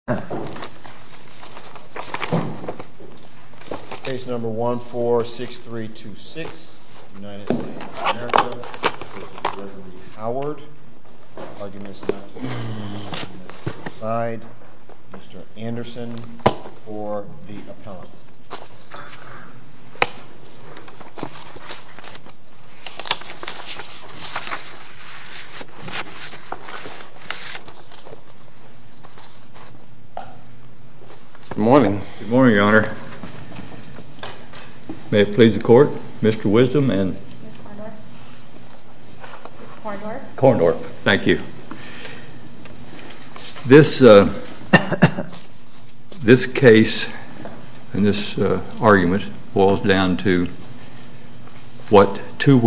I give the floor to Mr. Clyde, Mr. Anderson, or the appellant. Good morning. Good morning, Your Honor. May it please the court, Mr. Wisdom and Korndorff. Thank you. This case and this argument boils down to what two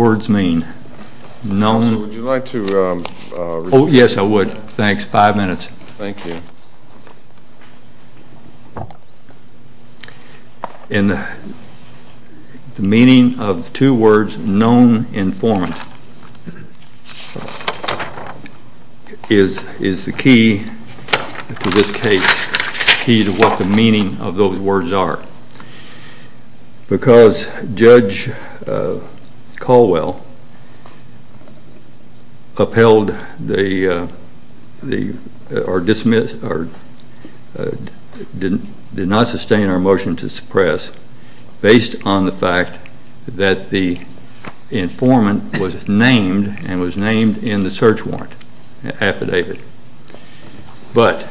minutes. Thank you. In the meaning of two words, non-informant, is the key to this case, key to what the meaning of those words are. Because Judge Caldwell upheld the, or dismissed, or did not sustain our motion to suppress based on the fact that the informant was named and was named in the search warrant affidavit. But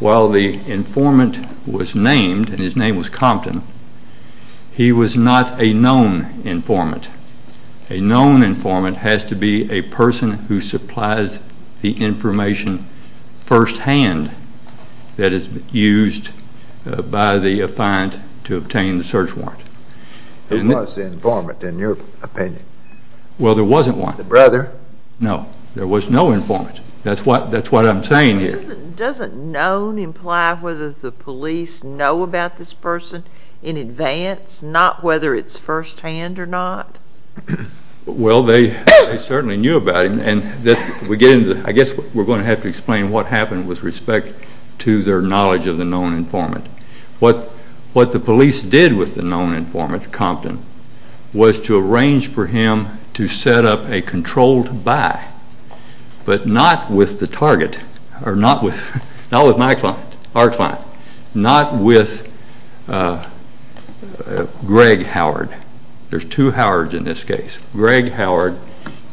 while the informant was named, and his name was Compton, he was not a known informant. A known informant has to be a person who supplies the information firsthand that is used by the affiant to obtain the search warrant. Who was the informant in your opinion? Well, there wasn't one. The brother? No, there was no informant. That's what I'm saying here. Doesn't known imply whether the it's firsthand or not? Well, they certainly knew about him. I guess we're going to have to explain what happened with respect to their knowledge of the known informant. What the police did with the known informant, Compton, was to arrange for him to set up a controlled buy, but not with the target, or not with my client, our client, not with Greg Howard. There's two Howards in this case. Greg Howard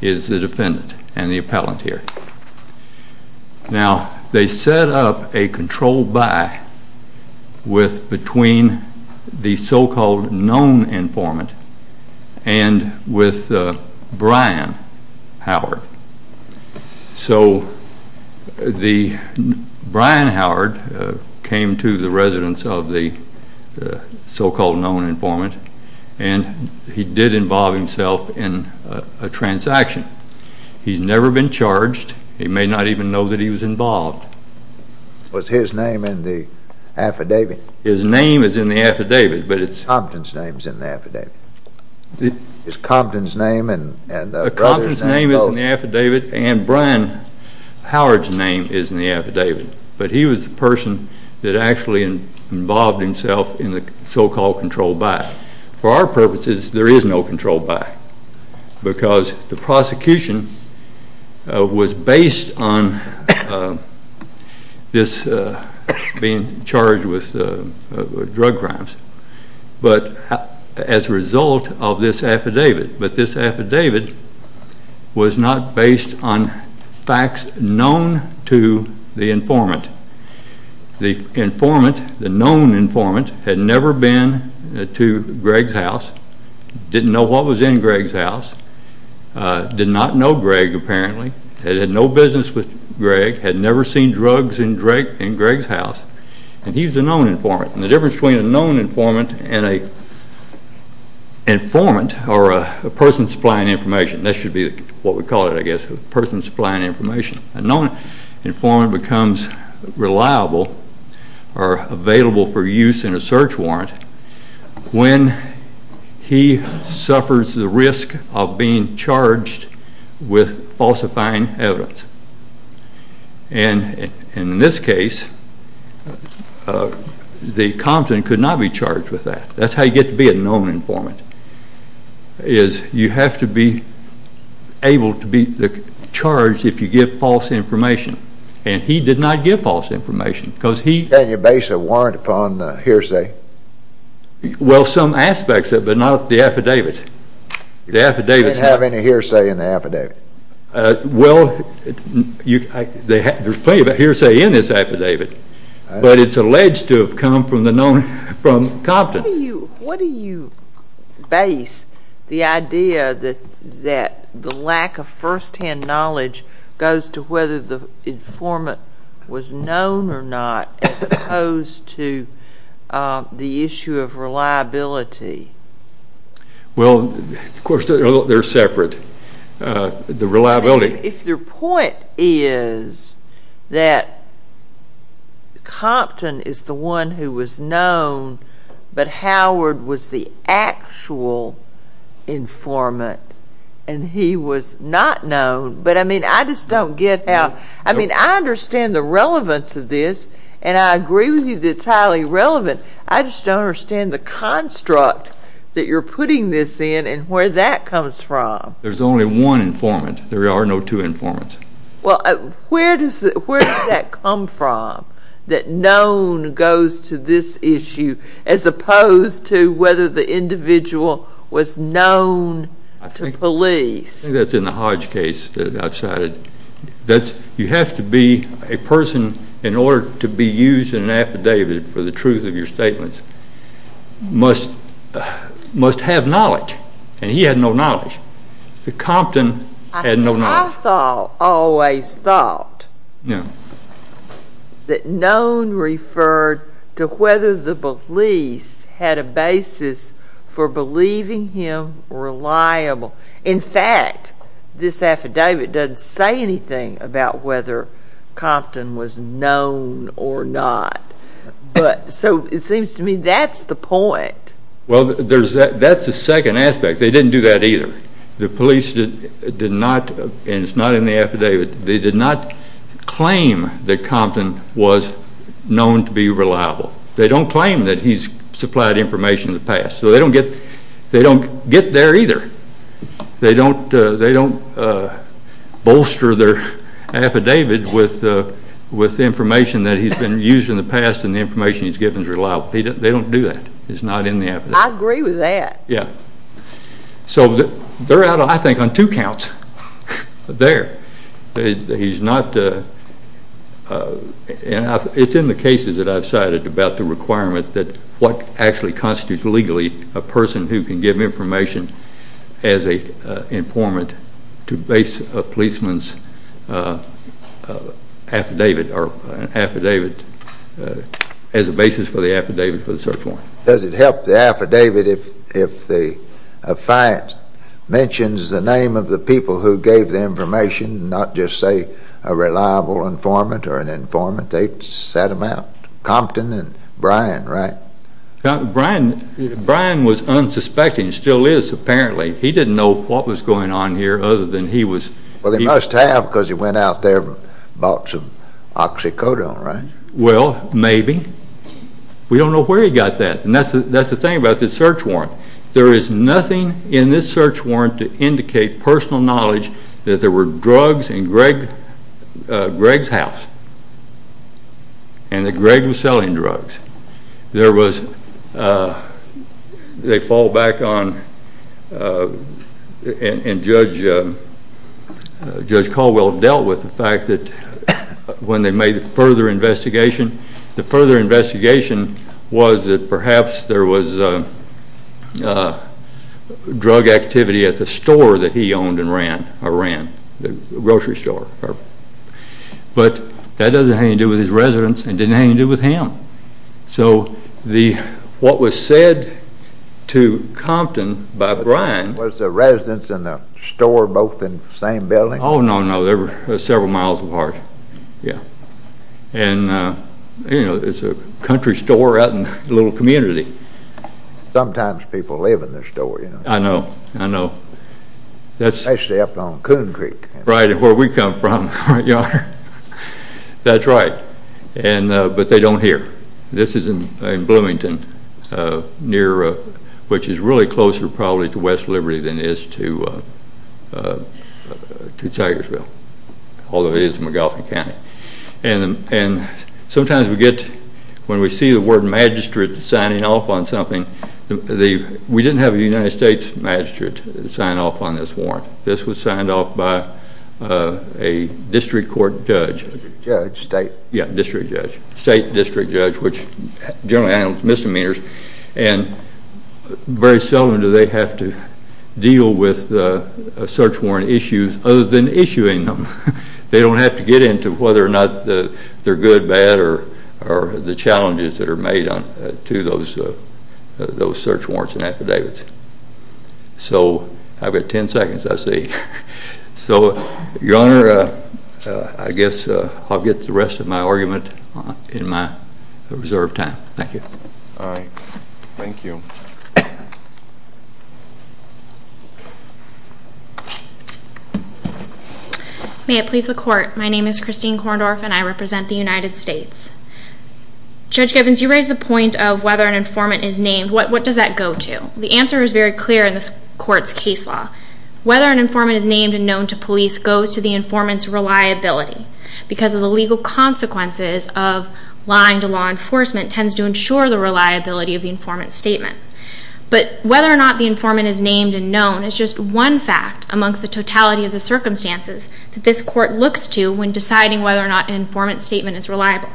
is the defendant and the appellant here. Now, they set up a controlled buy between the so-called known informant and with Brian Howard. So Brian Howard came to the residence of the so-called known informant and he did involve himself in a transaction. He's never been charged. He may not even know that he was involved. Was his name in the affidavit? His name is in the affidavit, but it's... Compton's name's in the affidavit. Is Compton's name and the brother's name both? Compton's name is in the affidavit and Brian Howard's name is in the affidavit, but he did involve himself in the so-called controlled buy. For our purposes, there is no controlled buy, because the prosecution was based on this being charged with drug crimes, but as a result of this affidavit, but this affidavit was not based on facts known to the informant. The informant, the known informant, had never been to Greg's house, didn't know what was in Greg's house, did not know Greg apparently, had had no business with Greg, had never seen drugs in Greg's house, and he's the known informant. And the difference between a known informant and an informant, or a person supplying information, that should be what we call it I guess, a person supplying information. A known informant becomes reliable or available for use in a search warrant when he suffers the risk of being charged with falsifying evidence. And in this case, the Compton could not be charged with that. That's how you get to be a known informant, is you have to be able to be charged if you give false information. And he did not give false information, because he... Can you base a warrant upon a hearsay? Well, some aspects of it, but not the affidavit. You didn't have any hearsay in the affidavit. Well, there's plenty of hearsay in this affidavit, but it's alleged to have come from Compton. What do you base the idea that the lack of first-hand knowledge goes to whether the informant was known or not, as opposed to the issue of reliability? Well, of course, they're separate. The reliability... If their point is that Compton is the one who was known, but Howard was the actual informant, and he was not known, but I mean, I just don't get how... I mean, I understand the relevance of this, and I agree with you that it's highly relevant. I just don't understand the construct that you're putting this in and where that comes from. There's only one informant. There are no two informants. Well, where does that come from, that known goes to this issue, as opposed to whether the individual was known to police? I think that's in the Hodge case that I've cited. You have to be a person, in order to be used in an affidavit for the truth of your statements, must have knowledge, and he had no knowledge. Compton had no knowledge. I always thought that known referred to whether the police had a basis for believing him reliable. In fact, this affidavit doesn't say anything about whether Compton was known or not. So it seems to me that's the point. Well, that's the second aspect. They didn't do that either. The police did not, and it's not in the affidavit, they did not claim that Compton was known to be reliable. They don't claim that he's supplied information in the past, so they don't get there either. They don't bolster their affidavit with information that he's been used in the past and the information he's given is reliable. They don't do that. It's not in the affidavit. I agree with that. So they're out, I think, on two counts there. It's in the cases that I've cited about the requirement that what actually constitutes legally a person who can give information as an informant to base a policeman's affidavit as a basis for the affidavit for the search warrant. Does it help the affidavit if the affiant mentions the name of the people who gave the information, not just say a reliable informant or an informant? They sat him out. Compton and Bryan, right? Bryan was unsuspecting, still is apparently. He didn't know what was going on here other than he was... Well, he must have because he went out there and bought some oxycodone, right? Well, maybe. We don't know where he got that. And that's the thing about this search warrant. There is nothing in this search warrant to indicate personal knowledge that there were drugs in Greg's house and that Greg was selling drugs. There was...they fall back on...and Judge Caldwell dealt with the fact that when they made a further investigation, the further investigation was that perhaps there was drug activity at the store that he owned and ran, a grocery store. But that doesn't have anything to do with his residence and didn't have anything to do with him. So, what was said to Compton by Bryan... Was the residence and the store both in the same building? Oh, no, no. They were several miles apart. And, you know, it's a country store out in the little community. Sometimes people live in the store, you know. I know, I know. Especially up on Coon Creek. Right, where we come from. That's right. But they don't hear. This is in Bloomington, which is really closer probably to West Liberty than it is to Tigersville. Although it is in McAuliffe County. And sometimes we get...when we see the word magistrate signing off on something... We didn't have a United States magistrate sign off on this warrant. This was signed off by a district court judge. Yeah, a district judge. State district judge, which generally handles misdemeanors. And very seldom do they have to deal with search warrant issues other than issuing them. They don't have to get into whether or not they're good, bad, or the challenges that are made to those search warrants and affidavits. So, I've got 10 seconds I see. So, your honor, I guess I'll get the rest of my argument in my reserved time. Thank you. All right. Thank you. May it please the court. My name is Christine Korndorf and I represent the United States. Judge Gibbons, you raised the point of whether an informant is named. What does that go to? The answer is very clear in this court's case law. Whether an informant is named and known to police goes to the informant's reliability. Because of the legal consequences of lying to law enforcement tends to ensure the reliability of the informant's statement. But whether or not the informant is named and known is just one fact amongst the totality of the circumstances that this court looks to when deciding whether or not an informant's statement is reliable.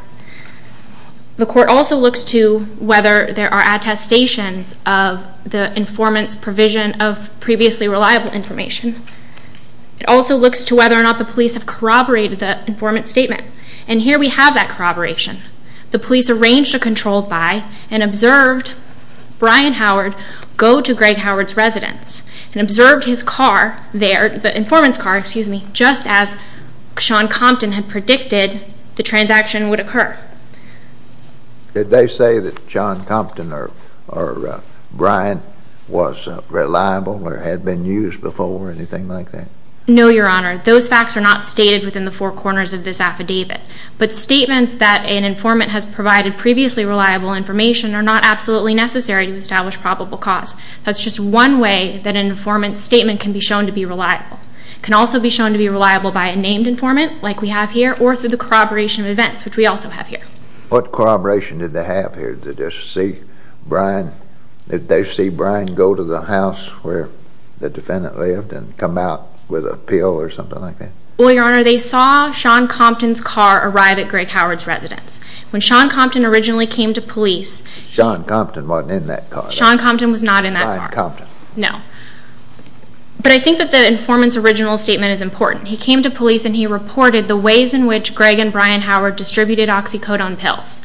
The court also looks to whether there are attestations of the informant's provision of previously reliable information. It also looks to whether or not the police have corroborated the informant's statement. And here we have that corroboration. The police arranged a controlled buy and observed Brian Howard go to Greg Howard's residence and observed his car there, the informant's car, excuse me, just as Sean Compton had predicted the transaction would occur. Did they say that Sean Compton or Brian was reliable or had been used before or anything like that? No, Your Honor. Those facts are not stated within the four corners of this affidavit. But statements that an informant has provided previously reliable information are not absolutely necessary to establish probable cause. That's just one way that an informant's statement can be shown to be reliable. It can also be shown to be reliable by a named informant, like we have here, or through the corroboration of events, which we also have here. What corroboration did they have here? Did they see Brian go to the house where the defendant lived and come out with a pill or something like that? Well, Your Honor, they saw Sean Compton's car arrive at Greg Howard's residence. When Sean Compton originally came to police... Sean Compton wasn't in that car. Sean Compton was not in that car. Brian Compton. No. But I think that the informant's original statement is important. He came to police and he reported the ways in which Greg and Brian Howard distributed oxycodone pills.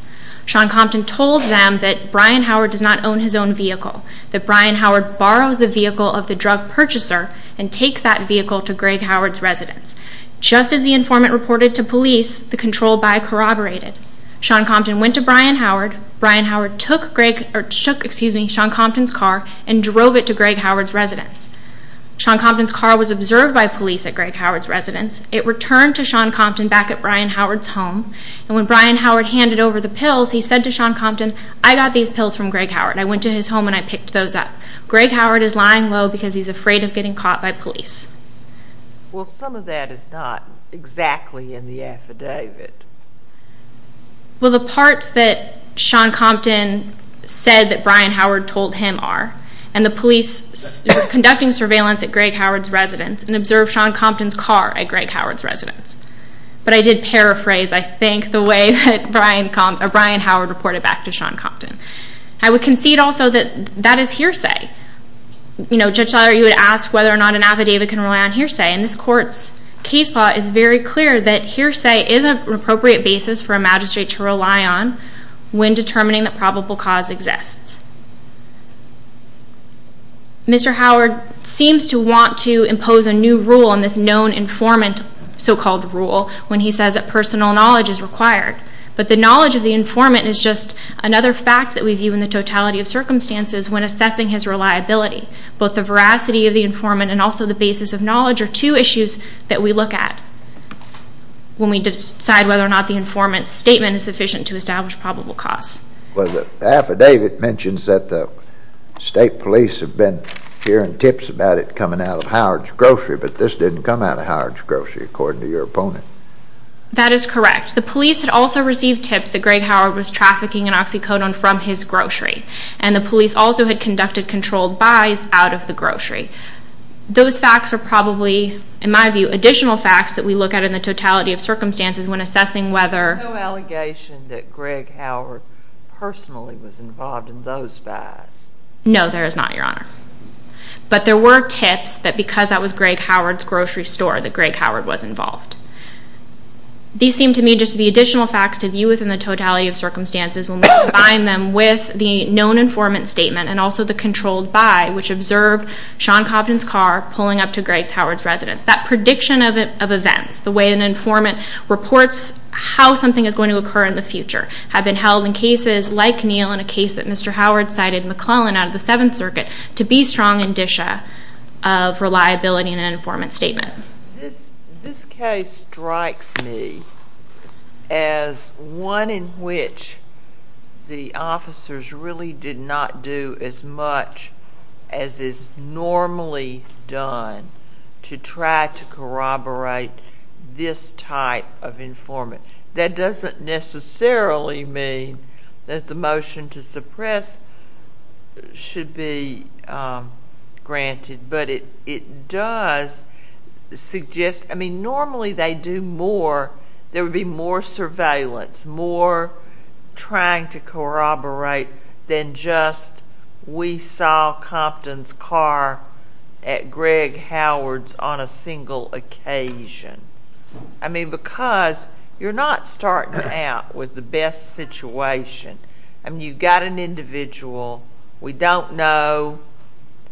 Sean Compton told them that Brian Howard does not own his own vehicle, that Brian Howard borrows the vehicle of the drug purchaser and takes that vehicle to Greg Howard's residence. Just as the informant reported to police, the control by corroborated. Sean Compton went to Brian Howard. Brian Howard took Sean Compton's car and drove it to Greg Howard's residence. Sean Compton's car was observed by police at Greg Howard's residence. It returned to Sean Compton back at Brian Howard's home, and when Brian Howard handed over the pills, he said to Sean Compton, I got these pills from Greg Howard. I went to his home and I picked those up. Greg Howard is lying low because he's afraid of getting caught by police. Well, some of that is not exactly in the affidavit. Well, the parts that Sean Compton said that Brian Howard told him are, and the police were conducting surveillance at Greg Howard's residence and observed Sean Compton's car at Greg Howard's residence. But I did paraphrase, I think, the way that Brian Howard reported back to Sean Compton. I would concede also that that is hearsay. You know, Judge Slaughter, you would ask whether or not an affidavit can rely on hearsay, and this Court's case law is very clear that hearsay is an appropriate basis for a magistrate to rely on when determining that probable cause exists. Mr. Howard seems to want to impose a new rule in this known informant so-called rule when he says that personal knowledge is required. But the knowledge of the informant is just another fact that we view in the totality of circumstances when assessing his reliability. Both the veracity of the informant and also the basis of knowledge are two issues that we look at when we decide whether or not the informant's statement is sufficient to establish probable cause. Well, the affidavit mentions that the state police have been hearing tips about it coming out of Howard's grocery, but this didn't come out of Howard's grocery, according to your opponent. That is correct. The police had also received tips that Greg Howard was trafficking an oxycodone from his grocery, and the police also had conducted controlled buys out of the grocery. Those facts are probably, in my view, additional facts that we look at in the totality of circumstances when assessing whether... There's no allegation that Greg Howard personally was involved in those buys. No, there is not, Your Honor. But there were tips that because that was Greg Howard's grocery store that Greg Howard was involved. These seem to me just to be additional facts to view within the totality of circumstances when we combine them with the known informant statement and also the controlled buy, which observed Sean Compton's car pulling up to Greg Howard's residence. That prediction of events, the way an informant reports how something is going to occur in the future, had been held in cases like Neal and a case that Mr. Howard cited McClellan out of the Seventh Circuit to be strong indicia of reliability in an informant statement. This case strikes me as one in which the officers really did not do as much as is normally done to try to corroborate this type of informant. That doesn't necessarily mean that the motion to suppress should be granted, but it does suggest... I mean, normally there would be more surveillance, more trying to corroborate than just we saw Compton's car at Greg Howard's on a single occasion. I mean, because you're not starting out with the best situation. I mean, you've got an individual, we don't know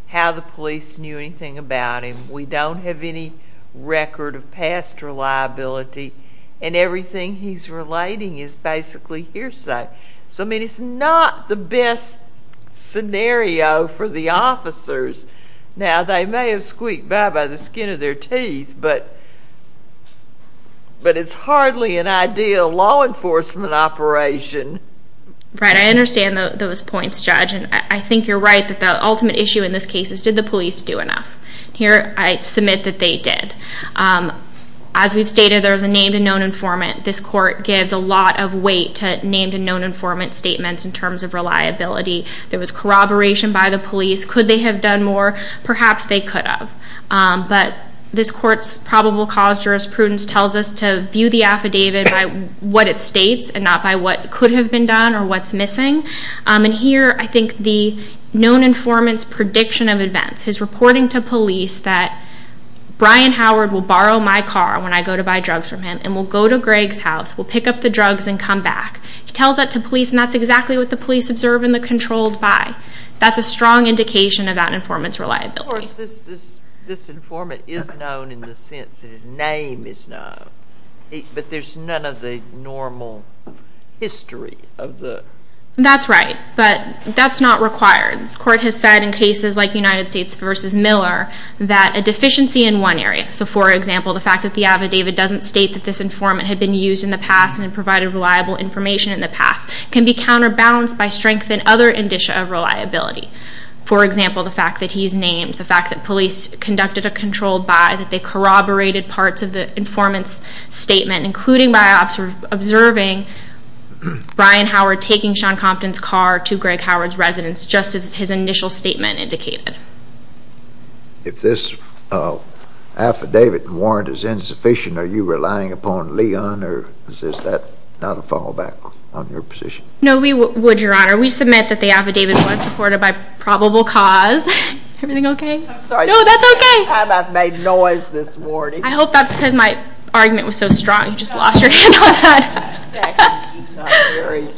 how the police knew anything about him, we don't have any record of past reliability, and everything he's relating is basically hearsay. So, I mean, it's not the best scenario for the officers. Now, they may have squeaked bye-bye the skin of their teeth, but it's hardly an ideal law enforcement operation. Right, I understand those points, Judge, and I think you're right that the ultimate issue in this case is did the police do enough? Here, I submit that they did. As we've stated, there's a named and known informant. This court gives a lot of weight to named and known informant statements in terms of reliability. There was corroboration by the police. Could they have done more? Perhaps they could have. But this court's probable cause jurisprudence tells us to view the affidavit by what it states and not by what could have been done or what's missing. And here, I think the known informant's prediction of events, his reporting to police that Brian Howard will borrow my car when I go to buy drugs from him and will go to Greg's house, will pick up the drugs, and come back. He tells that to police, and that's exactly what the police observe in the controlled buy. That's a strong indication of that informant's reliability. Of course, this informant is known in the sense that his name is known, but there's none of the normal history of the... That's right, but that's not required. This court has said in cases like United States v. Miller that a deficiency in one area, so for example, the fact that the affidavit doesn't state that this informant had been used in the past and provided reliable information in the past, can be counterbalanced by strength in other indicia of reliability. For example, the fact that he's named, the fact that police conducted a controlled buy, that they corroborated parts of the informant's statement, including by observing Brian Howard taking Sean Compton's car to Greg Howard's residence, just as his initial statement indicated. If this affidavit and warrant is insufficient, are you relying upon Leon, or is that not a fallback on your position? No, we would, Your Honor. We submit that the affidavit was supported by probable cause. Everything okay? I'm sorry. No, that's okay. I've made noise this morning. I hope that's because my argument was so strong you just lost your hand on that. I'm sorry.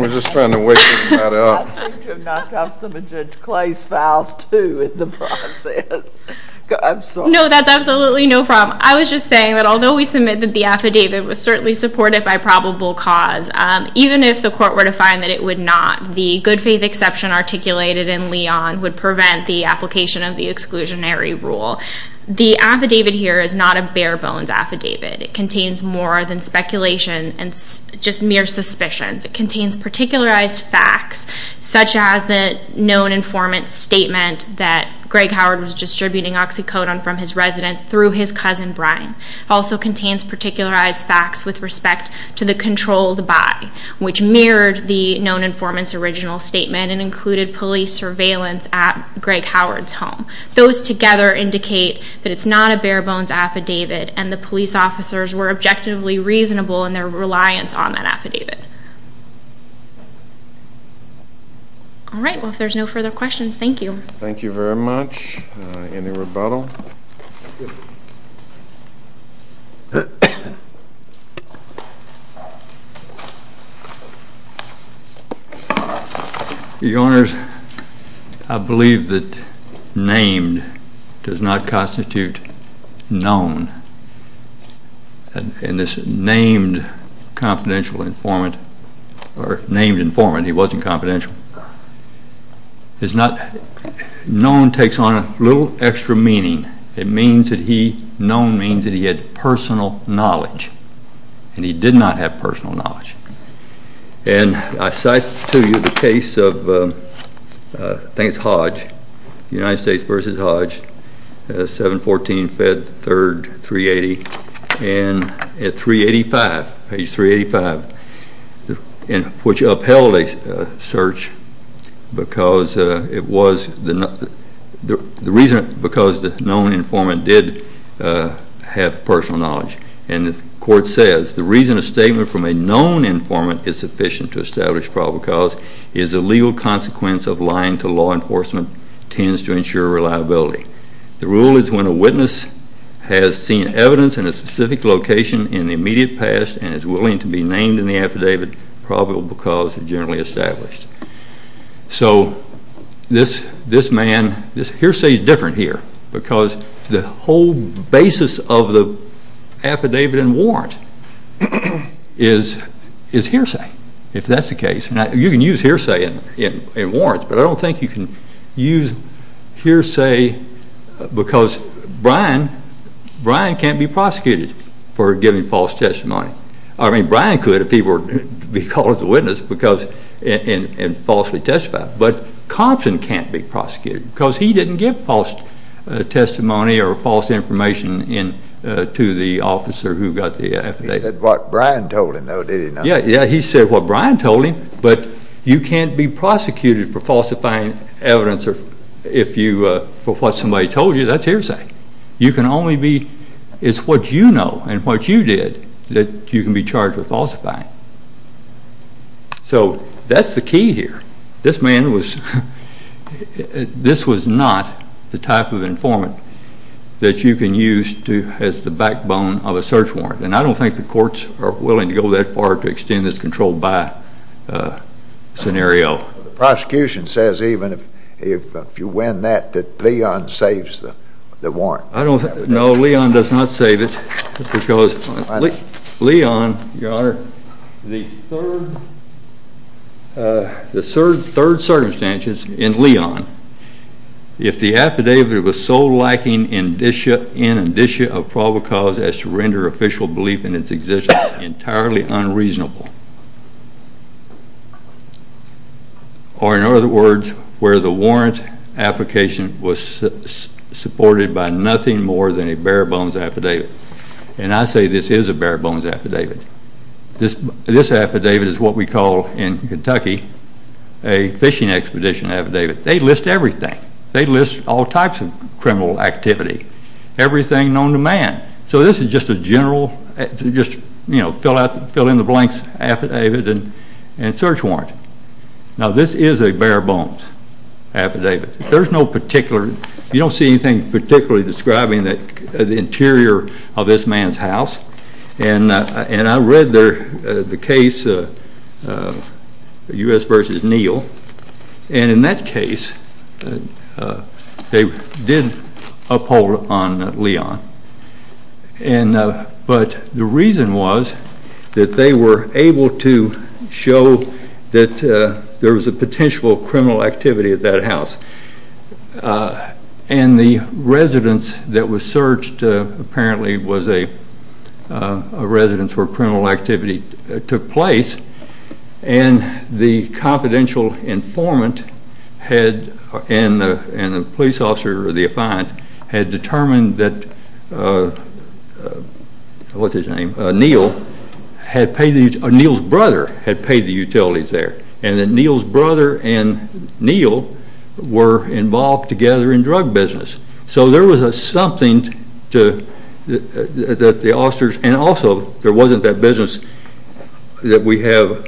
We're just trying to wake this matter up. I seem to have knocked off some of Judge Clay's files, too, in the process. I'm sorry. No, that's absolutely no problem. I was just saying that although we submit that the affidavit was certainly supported by probable cause, even if the court were to find that it would not, the good faith exception articulated in Leon would prevent the application of the exclusionary rule. The affidavit here is not a bare-bones affidavit. It contains more than speculation and just mere suspicions. It contains particularized facts, such as the known informant's statement that Greg Howard was distributing oxycodone from his residence through his cousin Brian. It also contains particularized facts with respect to the controlled body, which mirrored the known informant's original statement and included police surveillance at Greg Howard's home. Those together indicate that it's not a bare-bones affidavit and the police officers were objectively reasonable in their reliance on that affidavit. All right. Well, if there's no further questions, thank you. Thank you very much. Any rebuttal? Your Honors, I believe that named does not constitute known. And this named confidential informant, or named informant, he wasn't confidential, is not, known takes on a little extra meaning. It means that he, known means that he had personal knowledge, and he did not have personal knowledge. And I cite to you the case of, I think it's Hodge, United States versus Hodge, 7-14-5-3-3-80, and at 3-85, page 3-85, which upheld a search because it was the reason, because the known informant did have personal knowledge. And the court says, The reason a statement from a known informant is sufficient to establish probable cause is the legal consequence of lying to law enforcement tends to ensure reliability. The rule is when a witness has seen evidence in a specific location in the immediate past and is willing to be named in the affidavit probable cause is generally established. So this man, this hearsay is different here, because the whole basis of the affidavit and warrant is hearsay, if that's the case. You can use hearsay in warrants, but I don't think you can use hearsay because Brian can't be prosecuted for giving false testimony. I mean, Brian could if he were to be called a witness and falsely testified, but Compson can't be prosecuted because he didn't give false testimony or false information to the officer who got the affidavit. He said what Brian told him, though, did he not? Yeah, he said what Brian told him, but you can't be prosecuted for falsifying evidence for what somebody told you. That's hearsay. You can only be, it's what you know and what you did that you can be charged with falsifying. So that's the key here. This man was, this was not the type of informant that you can use as the backbone of a search warrant, and I don't think the courts are willing to go that far to extend this controlled by scenario. The prosecution says even if you win that that Leon saves the warrant. No, Leon does not save it because Leon, Your Honor, the third circumstances in Leon, if the affidavit was so lacking in indicia of probable cause as to render official belief in its existence entirely unreasonable, or in other words, where the warrant application was supported by nothing more than a bare bones affidavit, and I say this is a bare bones affidavit. This affidavit is what we call in Kentucky a fishing expedition affidavit. They list everything. They list all types of criminal activity. Everything known to man. So this is just a general, you know, fill in the blanks affidavit and search warrant. Now this is a bare bones affidavit. There's no particular, you don't see anything particularly describing the interior of this man's house, and I read the case U.S. v. Neal, and in that case they did uphold on Leon, but the reason was that they were able to show that there was a potential criminal activity at that house, and the residence that was searched apparently was a residence where criminal activity took place, and the confidential informant and the police officer or the affiant had determined that, what's his name, Neal's brother had paid the utilities there, and that Neal's brother and Neal were involved together in drug business. So there was something that the officers, and also there wasn't that business that we have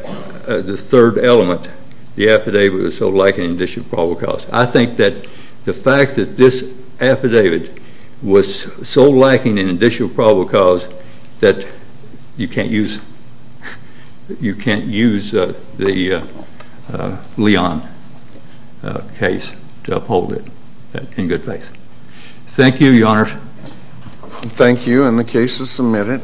the third element, the affidavit was so lacking in additional probable cause. I think that the fact that this affidavit was so lacking in additional probable cause that you can't use the Leon case to uphold it in good faith. Thank you, Your Honor. Thank you, and the case is submitted.